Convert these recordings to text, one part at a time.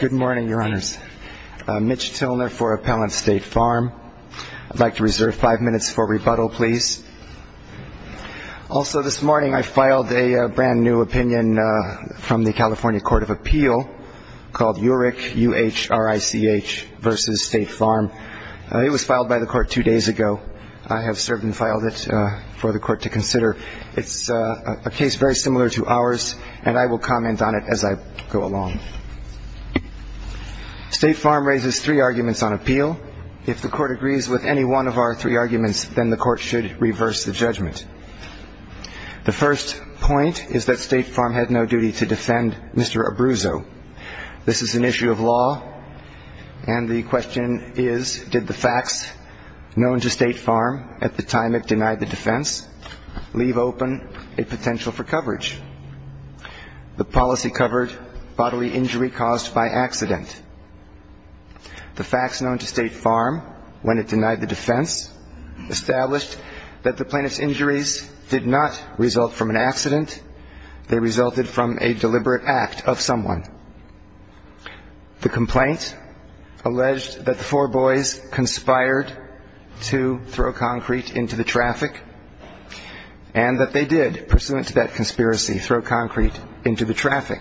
Good morning, Your Honors. Mitch Tilner for Appellant State Farm. I'd like to reserve five minutes for rebuttal, please. Also, this morning I filed a brand new opinion from the California Court of Appeal called UHRICH, U-H-R-I-C-H, versus State Farm. It was filed by the court two days ago. I have served and filed it for the court to consider. It's a case very similar to ours, and I will comment on it as I go along. State Farm raises three arguments on appeal. If the court agrees with any one of our three arguments, then the court should reverse the judgment. The first point is that State Farm had no duty to defend Mr. Abruzzo. This is an issue of law, and the question is, did the facts known to State Farm at the time it denied the defense leave open a potential for coverage? The policy covered bodily injury caused by accident. The facts known to State Farm when it denied the defense established that the plaintiff's injuries did not result from an accident. They resulted from a deliberate act of someone. The complaint alleged that the four boys conspired to throw concrete into the traffic, and that they did, pursuant to that conspiracy, throw concrete into the traffic.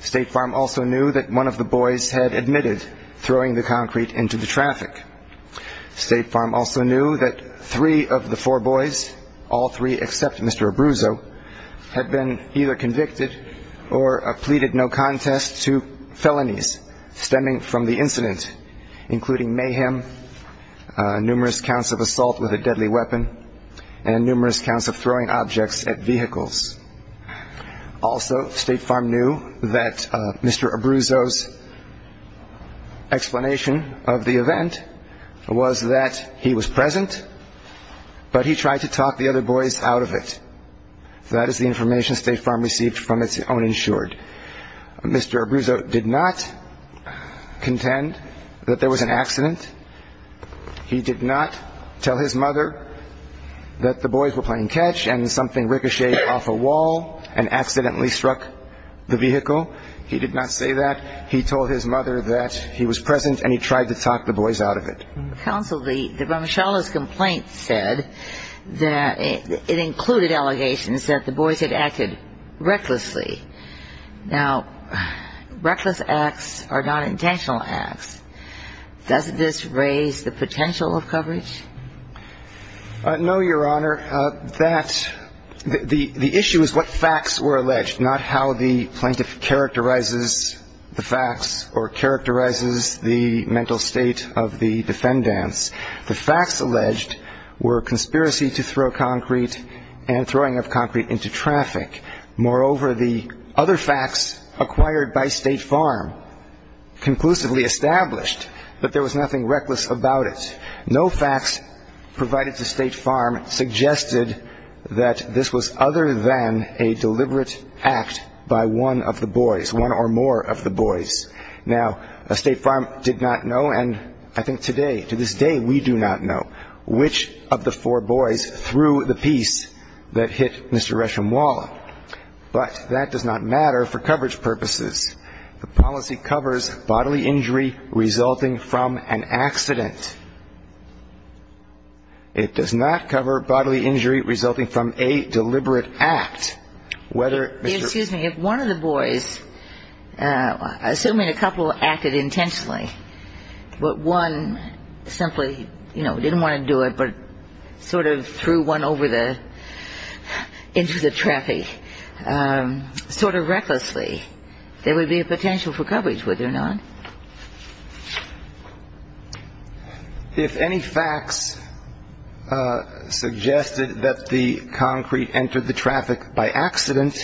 State Farm also knew that one of the boys had admitted throwing the concrete into the traffic. State Farm also knew that three of the four boys, all three except Mr. Abruzzo, had been either convicted or acquitted. State Farm pleaded no contest to felonies stemming from the incident, including mayhem, numerous counts of assault with a deadly weapon, and numerous counts of throwing objects at vehicles. Also, State Farm knew that Mr. Abruzzo's explanation of the event was that he was present, but he tried to talk the other boys out of it. That is the information State Farm received from its own insured. Mr. Abruzzo did not contend that there was an accident. He did not tell his mother that the boys were playing catch and something ricocheted off a wall and accidentally struck the vehicle. He did not say that. He told his mother that he was present and he tried to talk the boys out of it. Counsel, the Ramachala's complaint said that it included allegations that the boys had acted recklessly. Now, reckless acts are not intentional acts. Doesn't this raise the potential of coverage? No, Your Honor. The issue is what facts were alleged, not how the plaintiff characterizes the facts or characterizes the mental state of the defendants. The facts alleged were conspiracy to throw concrete and throwing of concrete into traffic. Moreover, the other facts acquired by State Farm conclusively established that there was nothing reckless about it. No facts provided to State Farm suggested that this was other than a deliberate act by one of the boys, one or more of the boys. Now, State Farm did not know, and I think today, to this day, we do not know, which of the four boys threw the piece that hit Mr. Reshamwala. But that does not matter for coverage purposes. The policy covers bodily injury resulting from an accident. It does not cover bodily injury resulting from a deliberate act, whether Mr. Excuse me, if one of the boys, assuming a couple acted intentionally, but one simply, you know, didn't want to do it, but sort of threw one over the, into the traffic, sort of recklessly, there would be a potential for coverage, would there not? If any facts suggested that the concrete entered the traffic by accident,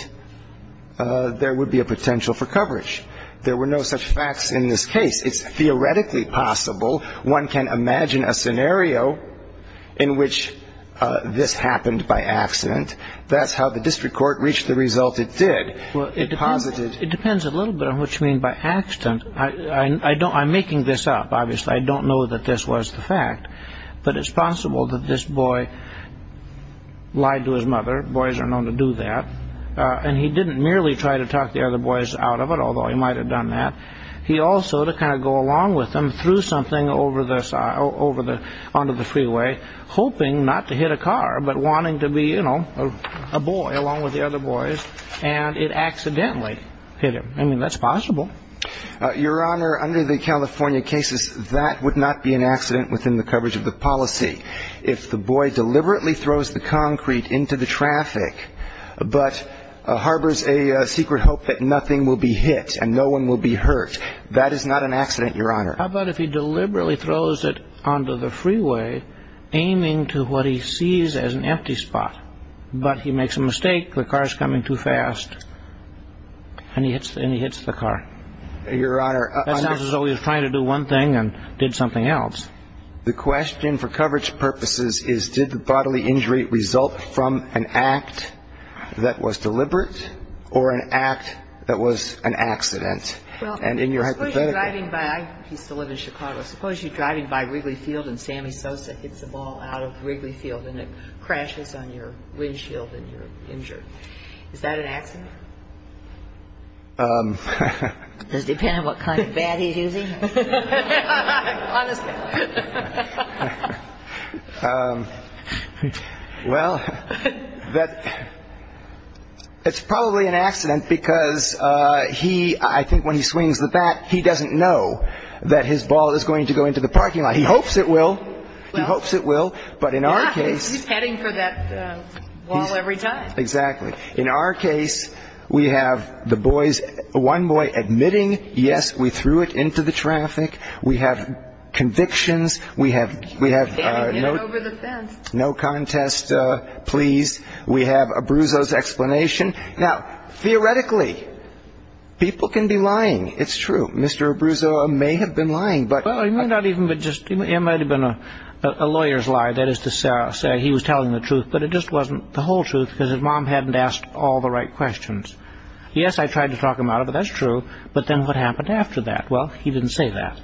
there would be a potential for coverage. There were no such facts in this case. It's theoretically possible. One can imagine a scenario in which this happened by accident. That's how the district court reached the result it did. It depends a little bit on what you mean by accident. I'm making this up, obviously. I don't know that this was the fact. But it's possible that this boy lied to his mother. Boys are known to do that. And he didn't merely try to talk the other boys out of it, although he might have done that. Your Honor, under the California cases, that would not be an accident within the coverage of the policy. If the boy deliberately throws the concrete into the traffic, but harbors a secret hope that nothing will be hit and no one will be hurt, that would be an accident. How about if he deliberately throws it onto the freeway, aiming to what he sees as an empty spot, but he makes a mistake, the car's coming too fast, and he hits the car? That sounds as though he was trying to do one thing and did something else. The question for coverage purposes is, did the bodily injury result from an act that was deliberate or an act that was an accident? And in your hypothetical... Suppose you're driving by, I used to live in Chicago, suppose you're driving by Wrigley Field and Sammy Sosa hits a ball out of Wrigley Field and it crashes on your windshield and you're injured. Is that an accident? Does it depend on what kind of bat he's using? Well, it's probably an accident because I think when he swings the bat, he doesn't know that his ball is going to go into the parking lot. He hopes it will. He hopes it will, but in our case... He's heading for that wall every time. Exactly. In our case, we have one boy admitting, yes, we threw it into the traffic, we have convictions, we have no contest, please, we have Abruzzo's explanation. Now, theoretically, people can be lying. It's true. Mr. Abruzzo may have been lying, but... It might have been a lawyer's lie, that is to say he was telling the truth, but it just wasn't the whole truth because his mom hadn't asked all the right questions. Yes, I tried to talk him out of it, that's true, but then what happened after that? Well, he didn't say that.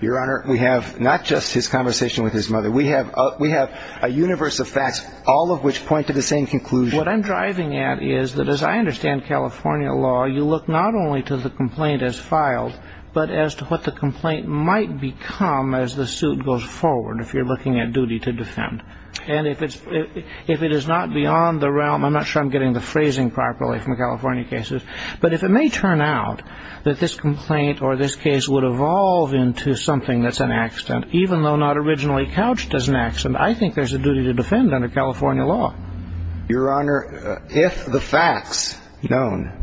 Your Honor, we have not just his conversation with his mother, we have a universe of facts, all of which point to the same conclusion. What I'm driving at is that as I understand California law, you look not only to the complaint as filed, but as to what the complaint might become as the suit goes forward, if you're looking at duty to defend. And if it is not beyond the realm, I'm not sure I'm getting the phrasing properly from California cases, but if it may turn out that this complaint or this case would evolve into something that's an accident, even though not originally couched as an accident, I think there's a duty to defend under California law. Your Honor, if the facts known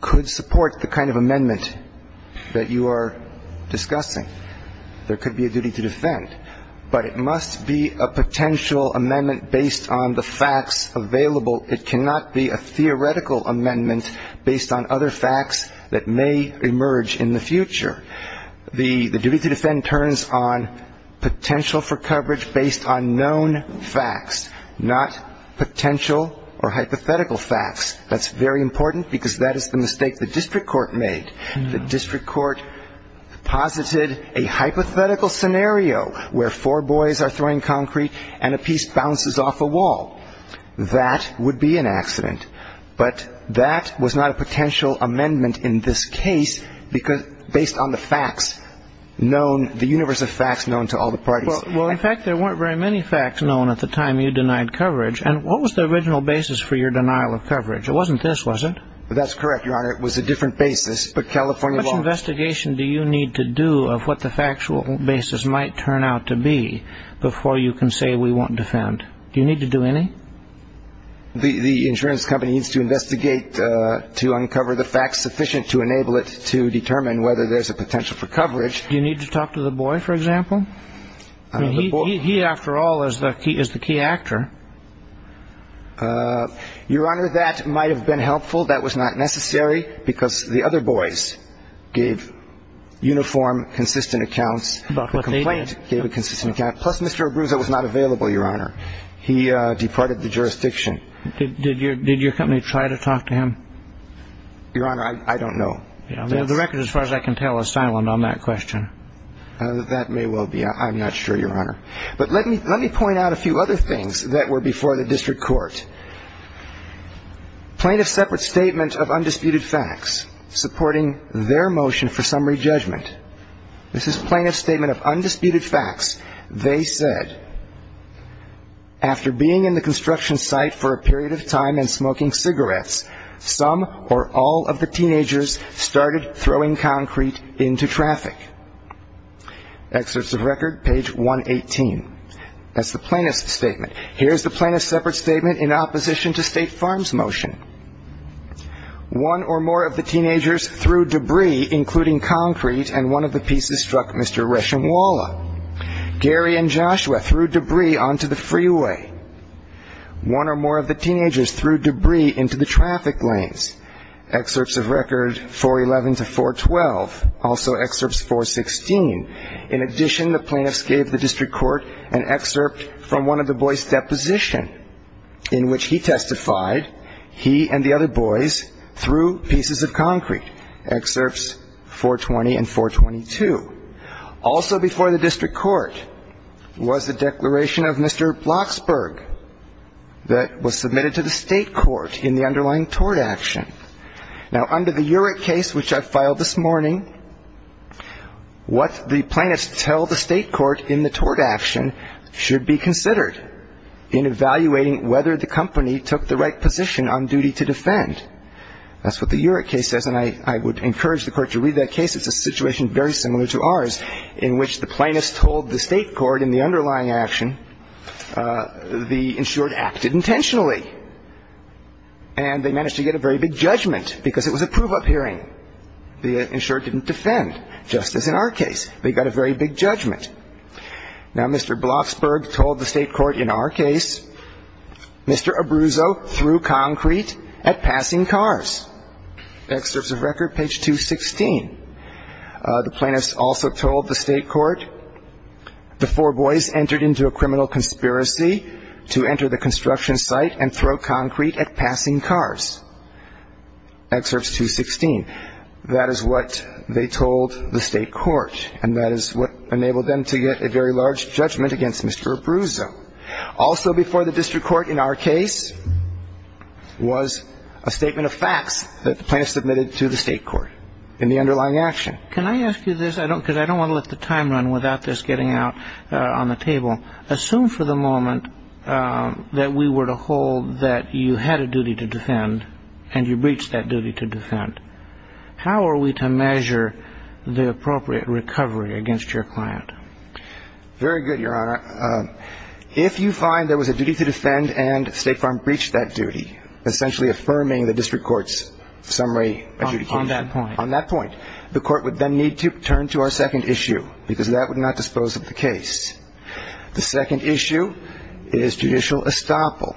could support the kind of amendment that you are discussing, there could be a duty to defend. But it must be a potential amendment based on the facts available. It cannot be a theoretical amendment based on other facts that may emerge in the future. The duty to defend turns on potential for coverage based on known facts, not potential or hypothetical facts. That's very important because that is the mistake the district court made. The district court posited a hypothetical scenario where four boys are throwing concrete and a piece bounces off a wall. That would be an accident. But that was not a potential amendment in this case based on the facts known, the universe of facts known to all the parties. Well, in fact, there weren't very many facts known at the time you denied coverage. And what was the original basis for your denial of coverage? It wasn't this, was it? That's correct, Your Honor. It was a different basis, but California law... What investigation do you need to do of what the factual basis might turn out to be before you can say we won't defend? Do you need to do any? The insurance company needs to investigate to uncover the facts sufficient to enable it to determine whether there's a potential for coverage. Do you need to talk to the boy, for example? He, after all, is the key actor. Your Honor, that might have been helpful. That was not necessary because the other boys gave uniform, consistent accounts. The complaint gave a consistent account. Plus, Mr. Abruzzo was not available, Your Honor. He departed the jurisdiction. Did your company try to talk to him? Your Honor, I don't know. The record, as far as I can tell, is silent on that question. That may well be. I'm not sure, Your Honor. But let me point out a few other things that were before the district court. Plaintiff's separate statement of undisputed facts supporting their motion for summary judgment. This is plaintiff's statement of undisputed facts. They said, After being in the construction site for a period of time and smoking cigarettes, some or all of the teenagers started throwing concrete into traffic. Excerpts of record, page 118. That's the plaintiff's statement. Here's the plaintiff's separate statement in opposition to State Farm's motion. One or more of the teenagers threw debris, including concrete, and one of the pieces struck Mr. Reshamwala. Gary and Joshua threw debris onto the freeway. One or more of the teenagers threw debris into the traffic lanes. Excerpts of record, 411 to 412. Also excerpts 416. In addition, the plaintiffs gave the district court an excerpt from one of the boys' depositions in which he testified, he and the other boys, threw pieces of concrete. Excerpts 420 and 422. Also before the district court was the declaration of Mr. Blocksberg that was submitted to the state court in the underlying tort action. Now, under the Urick case, which I filed this morning, what the plaintiffs tell the state court in the tort action should be considered in evaluating whether the company took the right position on duty to defend. That's what the Urick case says, and I would encourage the court to read that case. It's a situation very similar to ours in which the plaintiffs told the state court in the underlying action the insured acted intentionally, and they managed to get a very big judgment because it was a prove-up hearing. The insured didn't defend, just as in our case. They got a very big judgment. Now, Mr. Blocksberg told the state court in our case, Mr. Abruzzo threw concrete at passing cars. Excerpts of record, page 216. The plaintiffs also told the state court, the four boys entered into a criminal conspiracy to enter the construction site and throw concrete at passing cars. Excerpts 216. That is what they told the state court, and that is what enabled them to get a very large judgment against Mr. Abruzzo. Also before the district court in our case was a statement of facts that the plaintiffs submitted to the state court in the underlying action. Can I ask you this? Because I don't want to let the time run without this getting out on the table. Assume for the moment that we were to hold that you had a duty to defend and you breached that duty to defend. How are we to measure the appropriate recovery against your client? Very good, Your Honor. If you find there was a duty to defend and State Farm breached that duty, essentially affirming the district court's summary. On that point. On that point. The court would then need to turn to our second issue, because that would not dispose of the case. The second issue is judicial estoppel.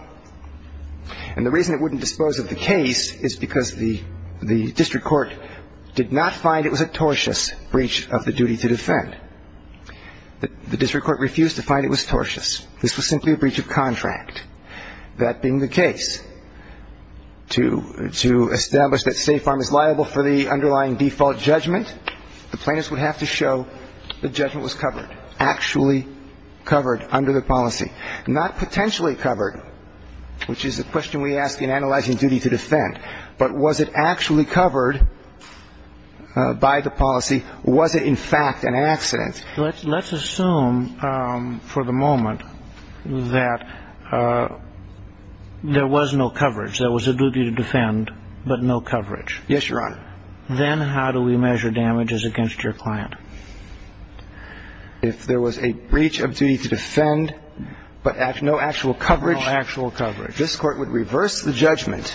And the reason it wouldn't dispose of the case is because the district court did not find it was a tortious breach of the duty to defend. The district court refused to find it was tortious. This was simply a breach of contract. That being the case, to establish that State Farm is liable for the underlying default judgment, the plaintiffs would have to show the judgment was covered, actually covered under the policy. Not potentially covered, which is the question we ask in analyzing duty to defend. But was it actually covered by the policy? Was it in fact an accident? Let's assume for the moment that there was no coverage. There was a duty to defend, but no coverage. Yes, Your Honor. Then how do we measure damages against your client? If there was a breach of duty to defend, but no actual coverage. No actual coverage. This Court would reverse the judgment,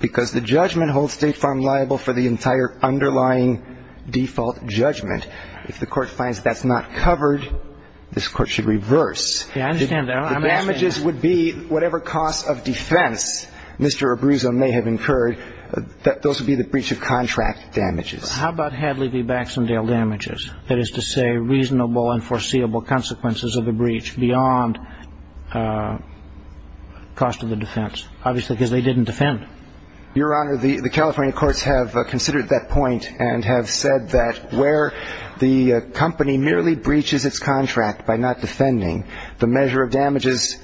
because the judgment holds State Farm liable for the entire underlying default judgment. If the Court finds that's not covered, this Court should reverse. I understand that. The damages would be whatever cost of defense Mr. Abruzzo may have incurred. Those would be the breach of contract damages. How about Hadley v. Baxendale damages? That is to say, reasonable and foreseeable consequences of the breach beyond cost of the defense, obviously because they didn't defend. Your Honor, the California courts have considered that point and have said that where the company merely breaches its contract by not defending, the measure of damages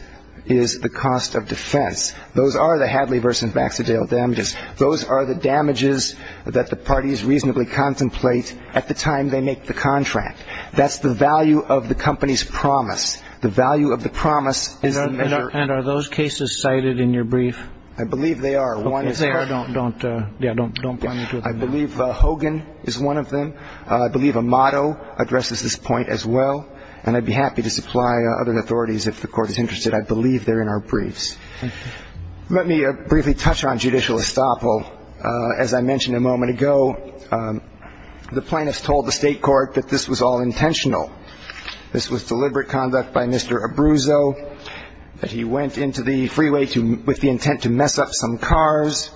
is the cost of defense. Those are the Hadley v. Baxendale damages. Those are the damages that the parties reasonably contemplate at the time they make the contract. That's the value of the company's promise. The value of the promise is the measure. And are those cases cited in your brief? I believe they are. If they are, don't point me to them. I believe Hogan is one of them. I believe Amato addresses this point as well. And I'd be happy to supply other authorities if the Court is interested. I believe they're in our briefs. Thank you. Let me briefly touch on judicial estoppel. As I mentioned a moment ago, the plaintiffs told the state court that this was all intentional. This was deliberate conduct by Mr. Abruzzo, that he went into the freeway with the intent to mess up some cars.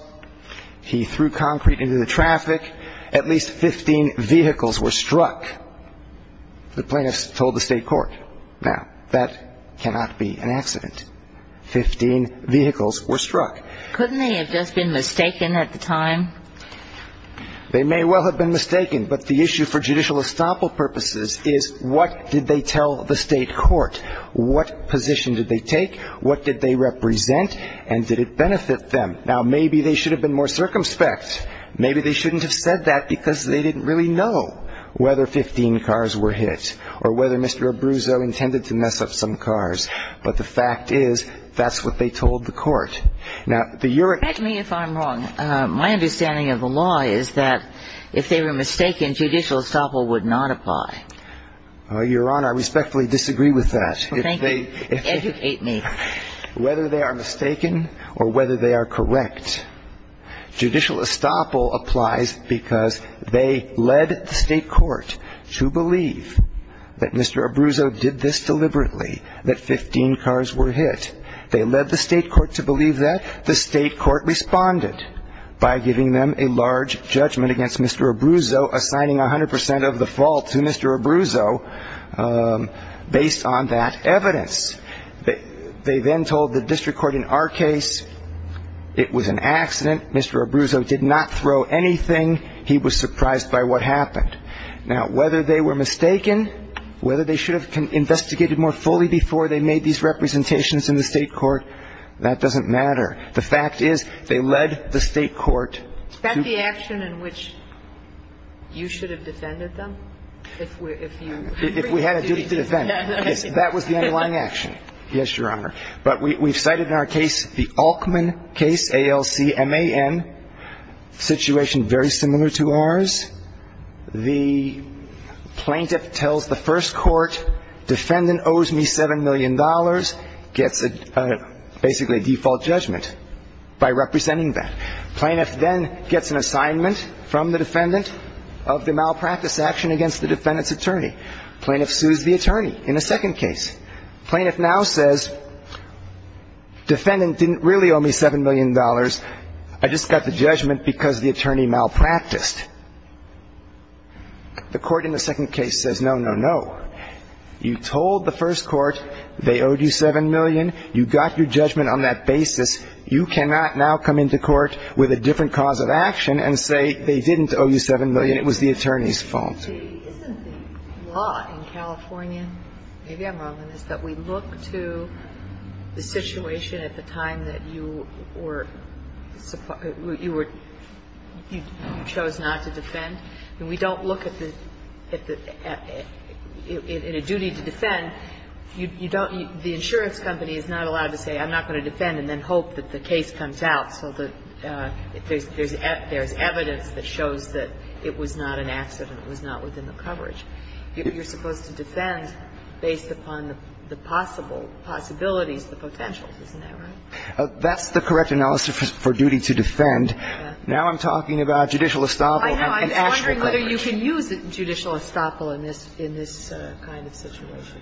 He threw concrete into the traffic. At least 15 vehicles were struck, the plaintiffs told the state court. Now, that cannot be an accident. Fifteen vehicles were struck. Couldn't they have just been mistaken at the time? They may well have been mistaken. But the issue for judicial estoppel purposes is what did they tell the state court? What position did they take? What did they represent? And did it benefit them? Now, maybe they should have been more circumspect. Maybe they shouldn't have said that because they didn't really know whether 15 cars were hit or whether Mr. Abruzzo intended to mess up some cars. But the fact is that's what they told the court. Now, the European ---- Correct me if I'm wrong. My understanding of the law is that if they were mistaken, judicial estoppel would not apply. Your Honor, I respectfully disagree with that. Thank you. Educate me. Whether they are mistaken or whether they are correct, judicial estoppel applies because they led the state court to believe that Mr. Abruzzo did this deliberately, that 15 cars were hit. They led the state court to believe that. The state court responded by giving them a large judgment against Mr. Abruzzo, assigning 100 percent of the fault to Mr. Abruzzo based on that evidence. They then told the district court, in our case, it was an accident. Mr. Abruzzo did not throw anything. He was surprised by what happened. Now, whether they were mistaken, whether they should have investigated more fully before they made these representations in the state court, that doesn't matter. The fact is they led the state court to ---- Is that the action in which you should have defended them? If you ---- If we had a duty to defend. Yes. That was the underlying action. Yes, Your Honor. But we've cited in our case the Altman case, A-L-C-M-A-N, situation very similar to ours. The plaintiff tells the first court, defendant owes me $7 million, gets basically a default judgment by representing that. Plaintiff then gets an assignment from the defendant of the malpractice action against the defendant's attorney. Plaintiff sues the attorney in a second case. Plaintiff now says, defendant didn't really owe me $7 million. I just got the judgment because the attorney malpracticed. The court in the second case says, no, no, no. You told the first court they owed you $7 million. You got your judgment on that basis. You cannot now come into court with a different cause of action and say they didn't owe you $7 million. It was the attorney's fault. See, isn't the law in California, maybe I'm wrong on this, that we look to the situation at the time that you were, you were, you chose not to defend? And we don't look at the, in a duty to defend, you don't, the insurance company is not allowed to say I'm not going to defend and then hope that the case comes out. So there's evidence that shows that it was not an accident, it was not within the coverage. You're supposed to defend based upon the possible possibilities, the potentials. Isn't that right? That's the correct analysis for duty to defend. Now I'm talking about judicial estoppel and actual coverage. I know. I was wondering whether you can use judicial estoppel in this, in this kind of situation.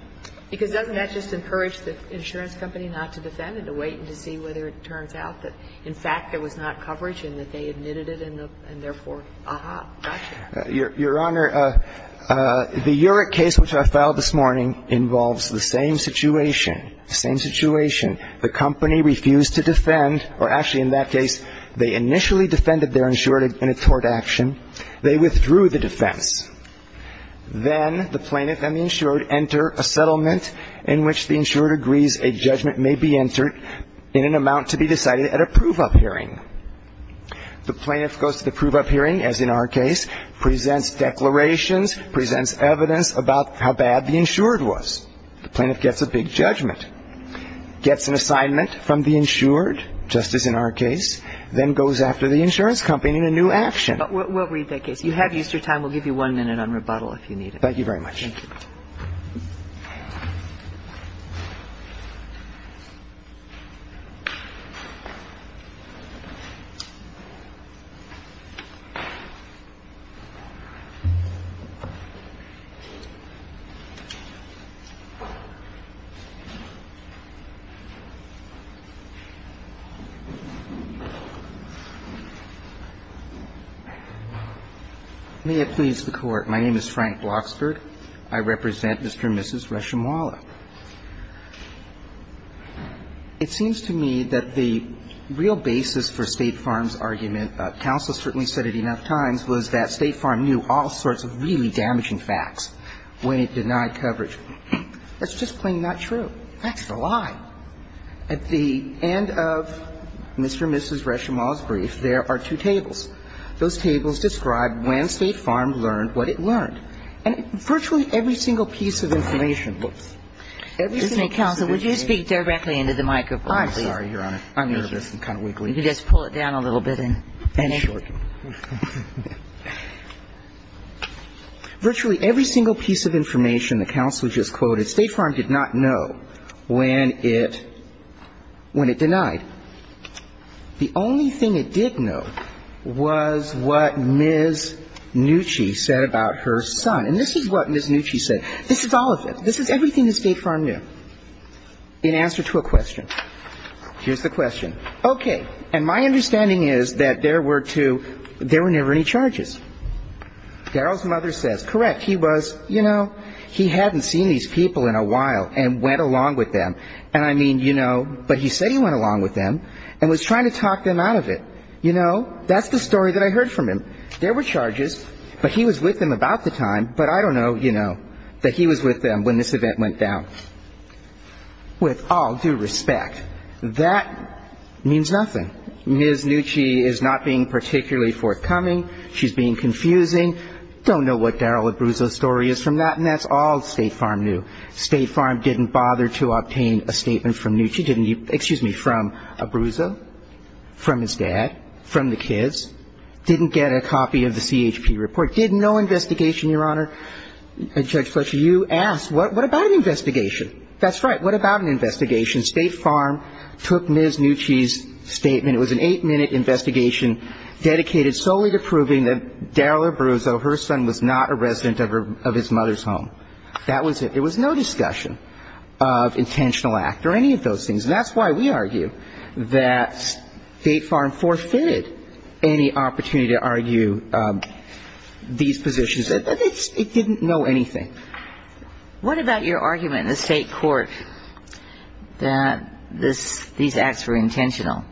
Because doesn't that just encourage the insurance company not to defend and to wait and to see whether it turns out that, in fact, there was not coverage and that they admitted it and therefore, aha, gotcha. Your Honor, the Urick case which I filed this morning involves the same situation, the same situation. The company refused to defend, or actually in that case, they initially defended their insurer in a tort action. They withdrew the defense. Then the plaintiff and the insurer enter a settlement in which the insurer agrees a judgment may be entered in an amount to be decided at a prove-up hearing. The plaintiff goes to the prove-up hearing, as in our case, presents declarations, presents evidence about how bad the insured was. The plaintiff gets a big judgment, gets an assignment from the insured, just as in our case, then goes after the insurance company in a new action. We'll read that case. You have Easter time. We'll give you one minute on rebuttal if you need it. Thank you very much. Thank you. May it please the Court. My name is Frank Bloxberg. I represent Mr. and Mrs. Reshamwallah. It seems to me that the real basis for State Farm's argument, counsel certainly said it enough times, was that State Farm knew all sorts of really damaging facts when it denied coverage. That's just plain not true. That's a lie. At the end of Mr. and Mrs. Reshamwallah's brief, there are two tables. Those tables describe when State Farm learned what it learned. And virtually every single piece of information. Every single piece of information. Counsel, would you speak directly into the microphone, please? I'm sorry, Your Honor. I'm nervous and kind of wiggly. You can just pull it down a little bit and shorten. Virtually every single piece of information the counsel just quoted, State Farm did not know when it denied. The only thing it did know was what Ms. Nucci said about her son. And this is what Ms. Nucci said. This is all of it. This is everything that State Farm knew in answer to a question. Here's the question. Okay. And my understanding is that there were two, there were never any charges. Darrell's mother says, correct. He was, you know, he hadn't seen these people in a while and went along with them. And I mean, you know, but he said he went along with them and was trying to talk them out of it. You know, that's the story that I heard from him. There were charges, but he was with them about the time. But I don't know, you know, that he was with them when this event went down. With all due respect, that means nothing. Ms. Nucci is not being particularly forthcoming. She's being confusing. Don't know what Darrell Abruzzo's story is from that. And that's all State Farm knew. State Farm didn't bother to obtain a statement from Nucci. Didn't, excuse me, from Abruzzo, from his dad, from the kids. Didn't get a copy of the CHP report. Did no investigation, Your Honor. Judge Fletcher, you asked, what about an investigation? That's right. What about an investigation? State Farm took Ms. Nucci's statement. It was an eight-minute investigation dedicated solely to proving that Darrell Abruzzo, her son, was not a resident of his mother's home. That was it. There was no discussion of intentional act or any of those things. And that's why we argue that State Farm forfeited any opportunity to argue these positions. It didn't know anything. What about your argument in the State Court that these acts were intentional?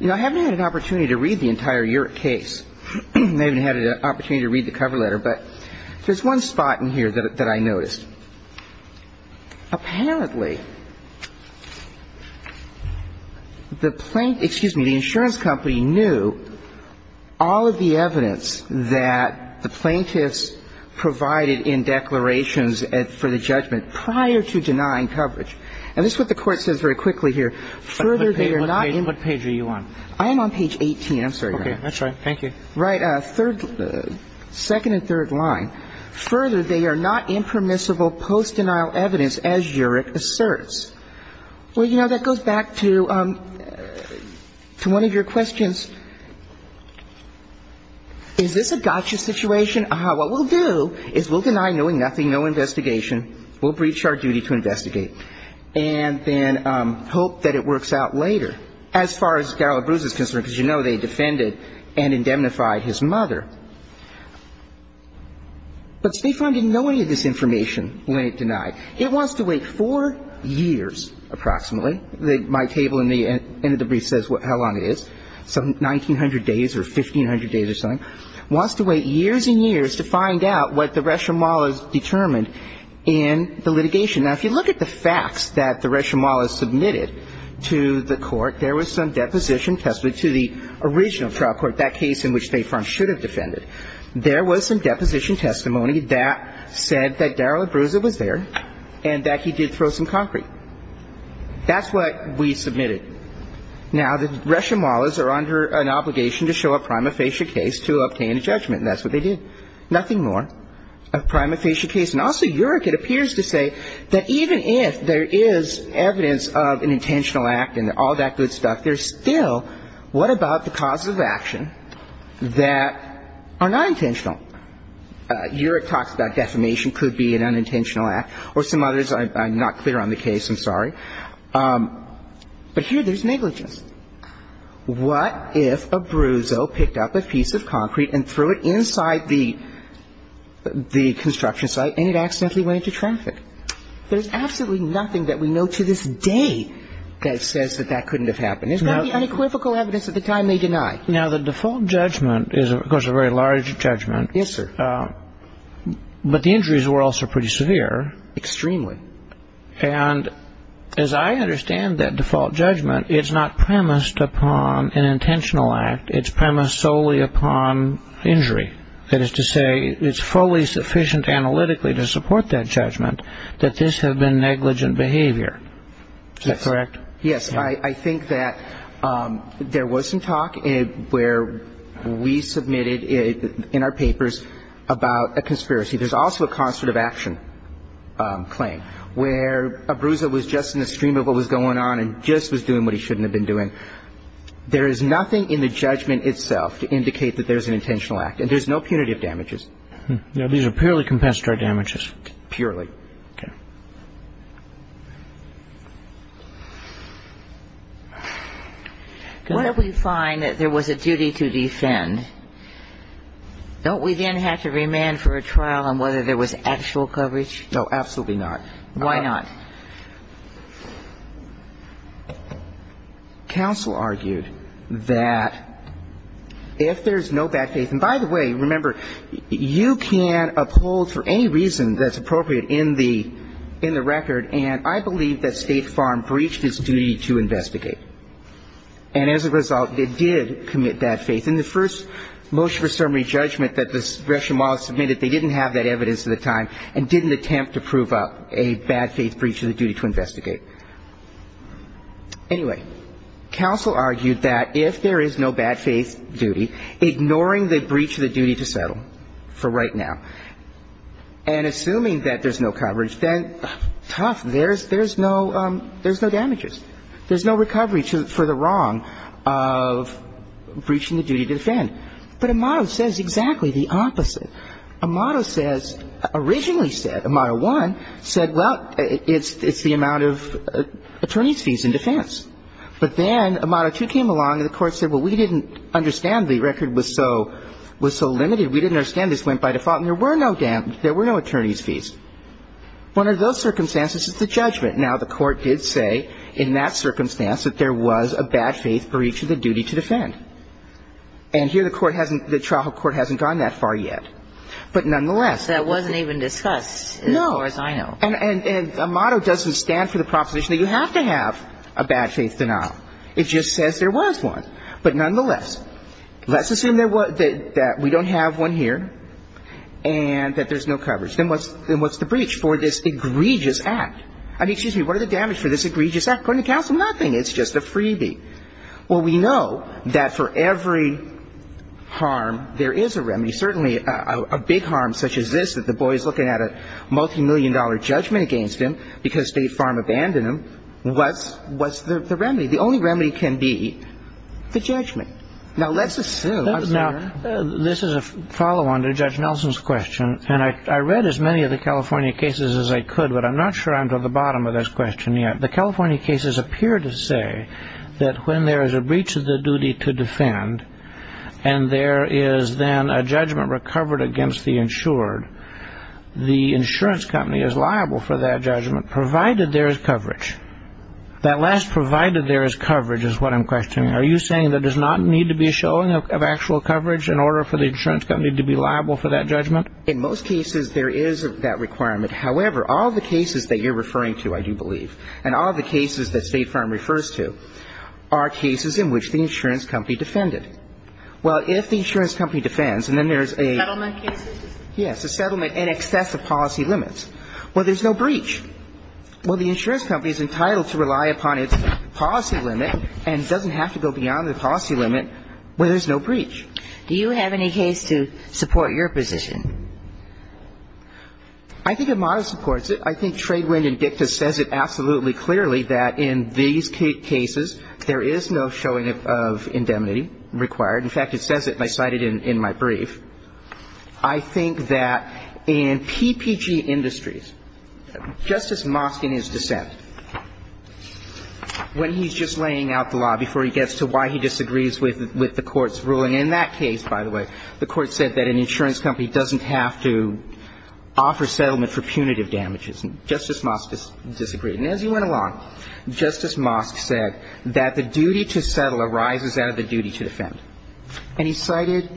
You know, I haven't had an opportunity to read the entire case. I haven't had an opportunity to read the cover letter. But there's one spot in here that I noticed. Apparently, the plaintiff – excuse me, the insurance company knew all of the evidence that the plaintiffs provided in declarations for the judgment prior to denying coverage. And this is what the Court says very quickly here. What page are you on? I am on page 18. I'm sorry, Your Honor. Okay. That's all right. Thank you. Right. Second and third line. Further, they are not impermissible post-denial evidence, as UREC asserts. Well, you know, that goes back to one of your questions. Is this a gotcha situation? What we'll do is we'll deny knowing nothing, no investigation. We'll breach our duty to investigate and then hope that it works out later. Now, as far as Gallabruz is concerned, because you know they defended and indemnified his mother, but State Farm didn't know any of this information when it denied. It wants to wait four years approximately. My table in the end of the brief says how long it is, some 1,900 days or 1,500 days or something. It wants to wait years and years to find out what the rationale is determined in the litigation. Now, if you look at the facts that the Reshomolahs submitted to the Court, there was some deposition testimony to the original trial court, that case in which State Farm should have defended. There was some deposition testimony that said that Daryl Abruzza was there and that he did throw some concrete. That's what we submitted. Now, the Reshomolahs are under an obligation to show a prima facie case to obtain a judgment, and that's what they did. Nothing more. A prima facie case. And also UREC, it appears to say that even if there is evidence of an intentional act and all that good stuff, there's still what about the causes of action that are not intentional? UREC talks about defamation could be an unintentional act, or some others. I'm not clear on the case. I'm sorry. But here there's negligence. What if Abruzzo picked up a piece of concrete and threw it inside the construction site and it accidentally went into traffic? There's absolutely nothing that we know to this day that says that that couldn't have happened. It's got to be unequivocal evidence at the time they deny. Now, the default judgment is, of course, a very large judgment. Yes, sir. But the injuries were also pretty severe. Extremely. And as I understand that default judgment, it's not premised upon an intentional act. It's premised solely upon injury. That is to say, it's fully sufficient analytically to support that judgment that this had been negligent behavior. Is that correct? Yes. I think that there was some talk where we submitted in our papers about a conspiracy. There's also a concert of action claim where Abruzzo was just in the stream of what was going on and just was doing what he shouldn't have been doing. There is nothing in the judgment itself to indicate that there's an intentional act. And there's no punitive damages. Now, these are purely compensatory damages. Purely. Okay. What if we find that there was a duty to defend? Don't we then have to remand for a trial on whether there was actual coverage? No, absolutely not. Why not? Counsel argued that if there's no bad faith, and by the way, remember, you can uphold for any reason that's appropriate in the record, and I believe that State Farm breached its duty to investigate. And as a result, it did commit bad faith. In the first motion for summary judgment that the Russian model submitted, they didn't have that evidence at the time and didn't attempt to prove up a bad faith breach of the duty to investigate. Anyway, counsel argued that if there is no bad faith duty, ignoring the breach of the duty to settle for right now, and assuming that there's no coverage, then tough, there's no damages. There's no recovery for the wrong of breaching the duty to defend. But Amato says exactly the opposite. Amato says, originally said, Amato 1 said, well, it's the amount of attorney's fees in defense. But then Amato 2 came along and the Court said, well, we didn't understand the record was so limited, we didn't understand this went by default, and there were no attorneys' fees. One of those circumstances is the judgment. Now, the Court did say in that circumstance that there was a bad faith breach of the duty to defend. And here the court hasn't the trial court hasn't gone that far yet. But nonetheless. That wasn't even discussed. No. As far as I know. And Amato doesn't stand for the proposition that you have to have a bad faith denial. It just says there was one. But nonetheless, let's assume that we don't have one here and that there's no coverage. Then what's the breach for this egregious act? I mean, excuse me, what are the damages for this egregious act? According to counsel, nothing. It's just a freebie. Well, we know that for every harm there is a remedy. Certainly a big harm such as this, that the boy is looking at a multimillion-dollar judgment against him because State Farm abandoned him. What's the remedy? The only remedy can be the judgment. Now, let's assume. Now, this is a follow-on to Judge Nelson's question. And I read as many of the California cases as I could, but I'm not sure I'm to the bottom of this question yet. The California cases appear to say that when there is a breach of the duty to defend and there is then a judgment recovered against the insured, the insurance company is liable for that judgment provided there is coverage. That last provided there is coverage is what I'm questioning. Are you saying there does not need to be a showing of actual coverage in order for the insurance company to be liable for that judgment? In most cases, there is that requirement. However, all the cases that you're referring to, I do believe. And all the cases that State Farm refers to are cases in which the insurance company defended. Well, if the insurance company defends and then there's a ---- Settlement cases? Yes, a settlement in excess of policy limits. Well, there's no breach. Well, the insurance company is entitled to rely upon its policy limit and doesn't have to go beyond the policy limit where there's no breach. Do you have any case to support your position? I think Amado supports it. I think Tradewind and Dicta says it absolutely clearly that in these cases, there is no showing of indemnity required. In fact, it says it cited in my brief. I think that in PPG Industries, Justice Mosk in his dissent, when he's just laying out the law before he gets to why he disagrees with the Court's ruling, in that case, by the way, the Court said that an insurance company doesn't have to offer settlement for punitive damages. And Justice Mosk disagreed. And as he went along, Justice Mosk said that the duty to settle arises out of the duty to defend. And he cited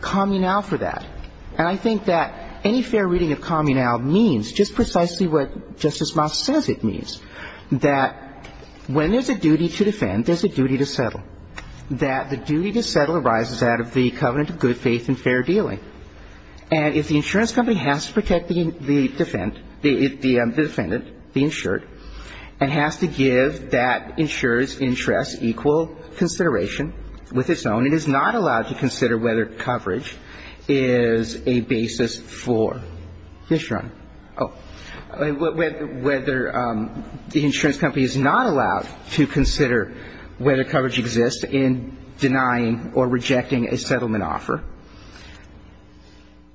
Communal for that. And I think that any fair reading of Communal means just precisely what Justice Mosk says it means, that when there's a duty to defend, there's a duty to settle, that the duty to settle arises out of the covenant of good faith and fair dealing. And if the insurance company has to protect the defendant, the insured, and has to give that insurer's interest equal consideration with its own, it is not allowed to consider whether coverage is a basis for this run. Oh. Whether the insurance company is not allowed to consider whether coverage exists in denying or rejecting a settlement offer,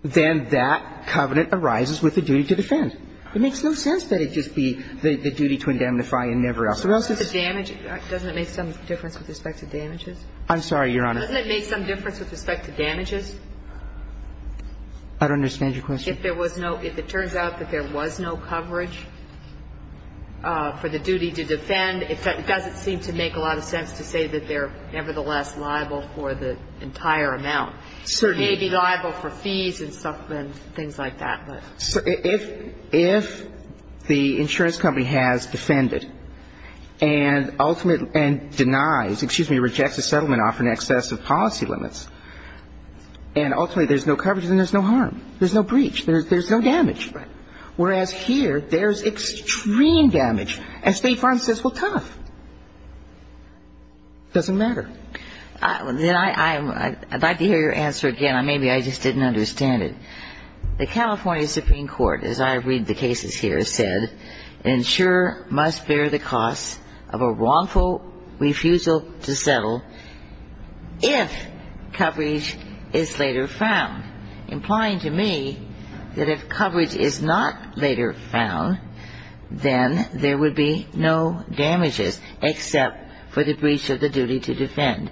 then that covenant arises with the duty to defend. It makes no sense that it just be the duty to indemnify and never else. The rest is the damage. Doesn't it make some difference with respect to damages? I'm sorry, Your Honor. Doesn't it make some difference with respect to damages? I don't understand your question. If there was no – if it turns out that there was no coverage for the duty to defend, it doesn't seem to make a lot of sense to say that they're nevertheless liable for the entire amount. Certainly. Maybe liable for fees and stuff and things like that. If the insurance company has defended and ultimately – and denies – excuse me, rejects a settlement offer in excess of policy limits, and ultimately there's no coverage, then there's no harm. There's no breach. There's no damage. Right. Whereas here, there's extreme damage. And State Farm says, well, tough. Doesn't matter. Then I'd like to hear your answer again. Maybe I just didn't understand it. The California Supreme Court, as I read the cases here, said, insurer must bear the cost of a wrongful refusal to settle if coverage is later found, implying to me that if coverage is not later found, then there would be no damages except for the breach of the duty to defend.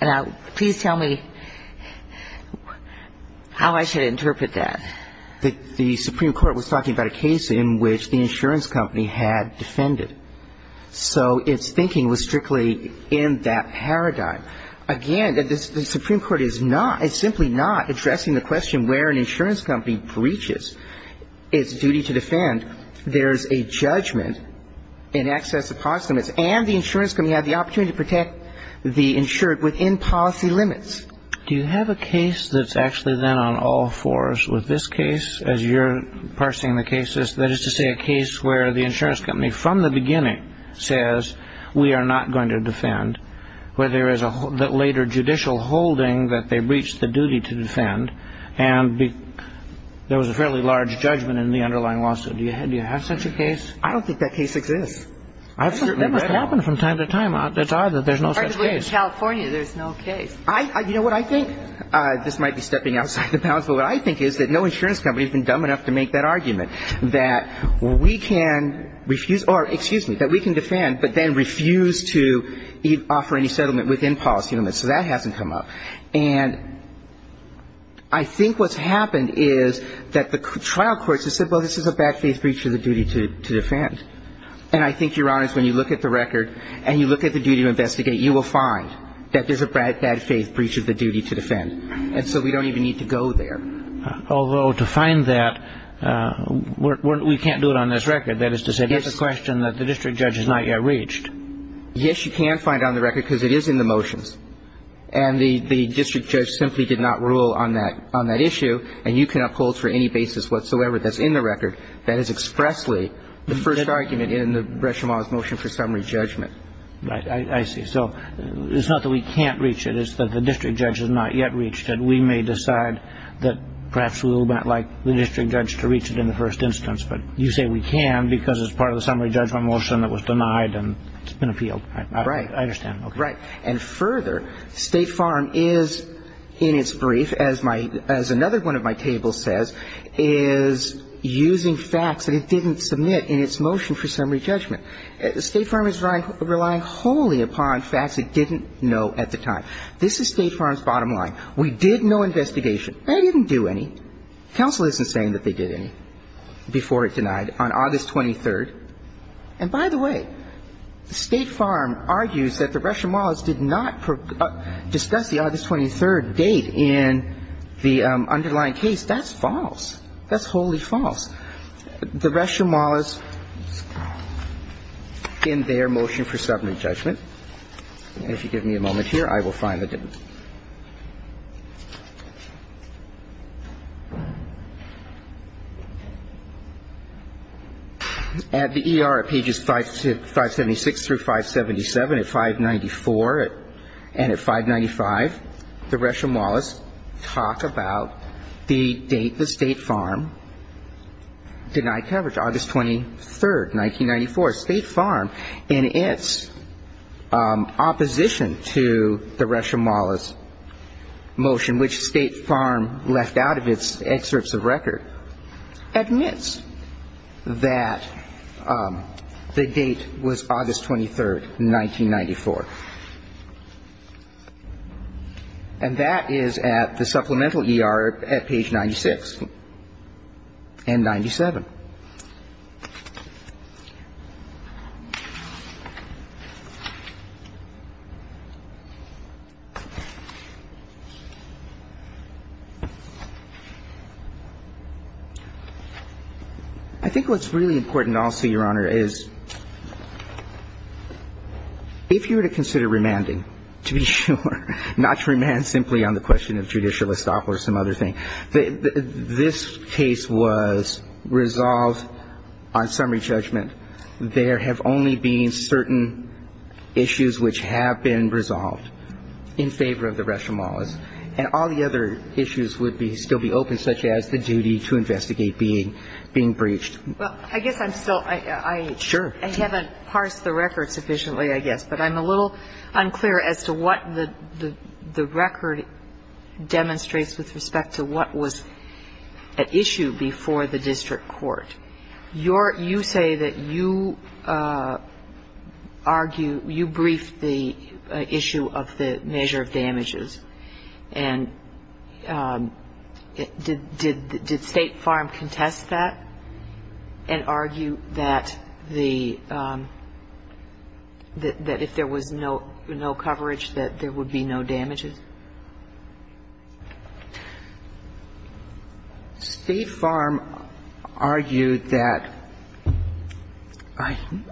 Now, please tell me how I should interpret that. The Supreme Court was talking about a case in which the insurance company had defended. So its thinking was strictly in that paradigm. Again, the Supreme Court is simply not addressing the question where an insurance company breaches its duty to defend. There's a judgment in excess of policy limits, and the insurance company had the opportunity to protect the insured within policy limits. Do you have a case that's actually then on all fours with this case, as you're parsing the cases, that is to say a case where the insurance company from the beginning says, we are not going to defend, where there is a later judicial holding that they breach the duty to defend, and there was a fairly large judgment in the underlying lawsuit. Do you have such a case? I don't think that case exists. That must happen from time to time. It's odd that there's no such case. Particularly in California, there's no case. You know what I think? This might be stepping outside the bounds, but what I think is that no insurance company has been dumb enough to make that argument, that we can refuse or, excuse me, that we can defend, but then refuse to offer any settlement within policy limits. So that hasn't come up. And I think what's happened is that the trial courts have said, well, this is a bad faith breach of the duty to defend. And I think, Your Honors, when you look at the record and you look at the duty to investigate, you will find that there's a bad faith breach of the duty to defend. And so we don't even need to go there. Although to find that, we can't do it on this record. That is to say, that's a question that the district judge has not yet reached. Yes, you can find it on the record because it is in the motions. And the district judge simply did not rule on that issue, and you cannot hold for any basis whatsoever that's in the record. That is expressly the first argument in the Bresham Law's motion for summary judgment. Right. I see. So it's not that we can't reach it. It's that the district judge has not yet reached it. We may decide that perhaps we would not like the district judge to reach it in the first instance. But you say we can because it's part of the summary judgment motion that was denied and it's been appealed. Right. I understand. Right. And further, State Farm is, in its brief, as another one of my tables says, is using facts that it didn't submit in its motion for summary judgment. State Farm is relying wholly upon facts it didn't know at the time. This is State Farm's bottom line. We did no investigation. They didn't do any. Counsel isn't saying that they did any before it denied on August 23rd. And by the way, State Farm argues that the Bresham Laws did not discuss the August 23rd date in the underlying case. That's false. That's wholly false. The Bresham Laws, in their motion for summary judgment, and if you give me a moment here, I will find it. At the E.R., at pages 576 through 577, at 594 and at 595, the Bresham Laws talk about the date the State Farm denied coverage, August 23rd, 1994. State Farm, in its opposition to the Bresham Laws motion, which State Farm left out of its excerpts of record, admits that the date was August 23rd, 1994. And that is at the supplemental E.R. at page 96 and 97. I think what's really important also, Your Honor, is if you were to consider remanding, to be sure, not to remand simply on the question of judicial estoppel or some other thing, this case was resolved on summary judgment. There have only been certain issues which have been resolved in favor of the Bresham Laws. And all the other issues would still be open, such as the duty to investigate being breached. Well, I guess I'm still ‑‑ Sure. I haven't parsed the record sufficiently, I guess. But I'm a little unclear as to what the record demonstrates with respect to what was at issue before the district court. You say that you argue ‑‑ you briefed the issue of the measure of damages. And did State Farm contest that and argue that the ‑‑ that if there was no coverage, that there would be no damages? State Farm argued that ‑‑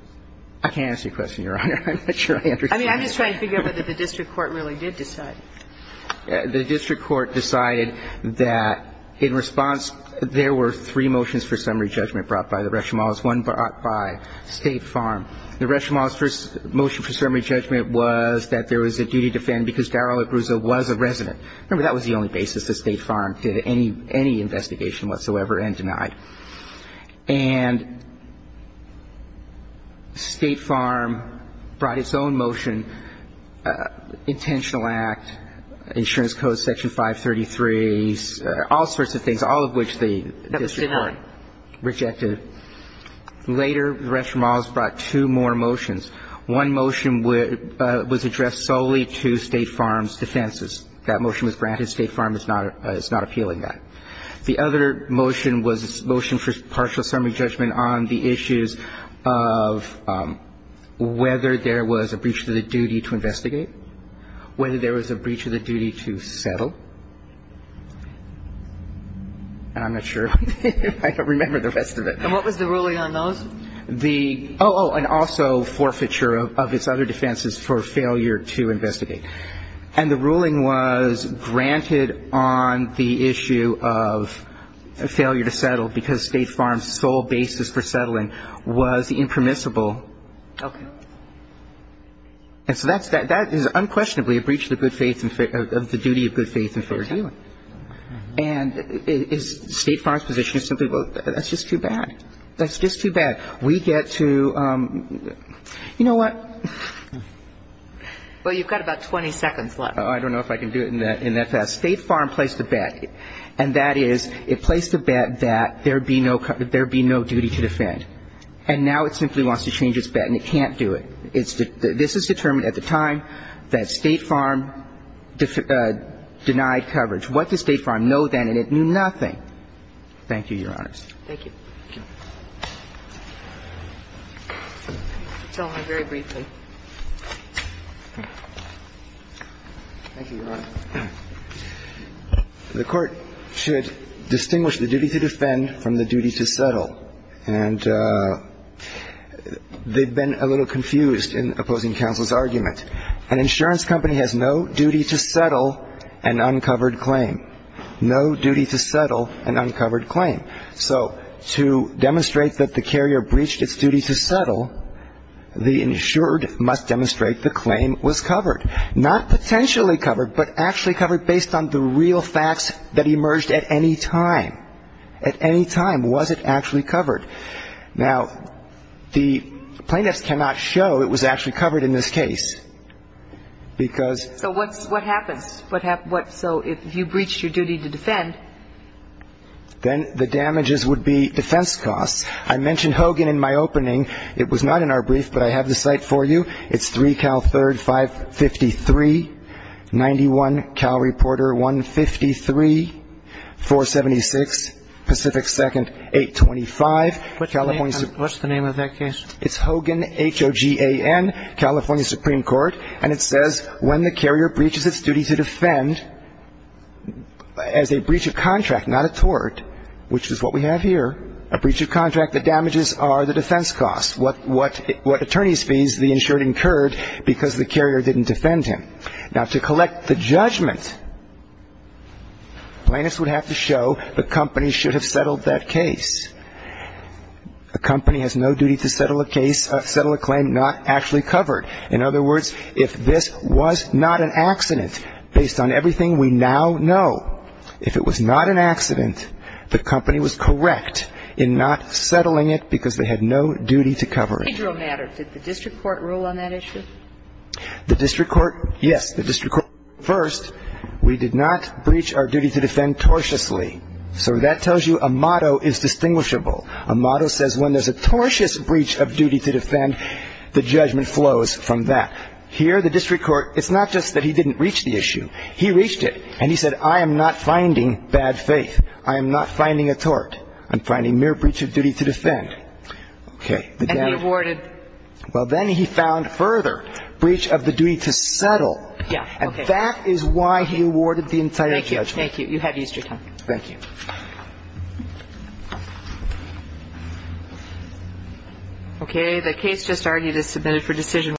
I can't answer your question, Your Honor. I'm not sure I understand. I mean, I'm just trying to figure out whether the district court really did decide. The district court decided that in response, there were three motions for summary judgment brought by the Bresham Laws, one brought by State Farm. The Bresham Laws first motion for summary judgment was that there was a duty to defend because Daryl Abruzzo was a resident. Remember, that was the only basis that State Farm did any investigation whatsoever and denied. And State Farm brought its own motion, intentional act, insurance code section 533, all sorts of things, all of which the district court rejected. That was denied. Later, the Bresham Laws brought two more motions. One motion was addressed solely to State Farm's defenses. That motion was granted. State Farm is not appealing that. The other motion was motion for partial summary judgment on the issues of whether there was a breach of the duty to investigate, whether there was a breach of the duty to settle. And I'm not sure. I don't remember the rest of it. And what was the ruling on those? Oh, and also forfeiture of its other defenses for failure to investigate. And the ruling was granted on the issue of failure to settle because State Farm's sole basis for settling was the impermissible. Okay. And so that is unquestionably a breach of the good faith and of the duty of good faith in fair dealing. And State Farm's position is simply, well, that's just too bad. That's just too bad. We get to, you know what? Well, you've got about 20 seconds left. I don't know if I can do it in that fast. State Farm placed a bet, and that is it placed a bet that there would be no duty to defend. And now it simply wants to change its bet, and it can't do it. This is determined at the time that State Farm denied coverage. What did State Farm know then? And it knew nothing. Thank you, Your Honors. Thank you. Tell him very briefly. Thank you, Your Honor. The Court should distinguish the duty to defend from the duty to settle. And they've been a little confused in opposing counsel's argument. An insurance company has no duty to settle an uncovered claim. No duty to settle an uncovered claim. So to demonstrate that the carrier breached its duty to settle, the insured must demonstrate the claim was covered. Not potentially covered, but actually covered based on the real facts that emerged at any time. At any time, was it actually covered? Now, the plaintiffs cannot show it was actually covered in this case, because ---- So what happens? So if you breached your duty to defend ---- Then the damages would be defense costs. I mentioned Hogan in my opening. It was not in our brief, but I have the cite for you. It's 3 Cal 3rd 553, 91 Cal Reporter 153, 476 Pacific 2nd 825. What's the name of that case? It's Hogan, H-O-G-A-N, California Supreme Court. And it says when the carrier breaches its duty to defend as a breach of contract, not a tort, which is what we have here, a breach of contract, the damages are the defense costs, what attorneys' fees the insured incurred because the carrier didn't defend him. Now, to collect the judgment, plaintiffs would have to show the company should have settled that case. A company has no duty to settle a claim not actually covered. In other words, if this was not an accident, based on everything we now know, if it was not an accident, the company was correct in not settling it because they had no duty to cover it. Did the district court rule on that issue? The district court, yes. The district court ruled first we did not breach our duty to defend tortiously. So that tells you a motto is distinguishable. A motto says when there's a tortious breach of duty to defend, the judgment flows from that. Here, the district court, it's not just that he didn't reach the issue. He reached it. And he said, I am not finding bad faith. I am not finding a tort. I'm finding mere breach of duty to defend. Okay. And he awarded. Well, then he found further breach of the duty to settle. Yeah. Okay. And that is why he awarded the entire judgment. Thank you. You have Easter time. Thank you.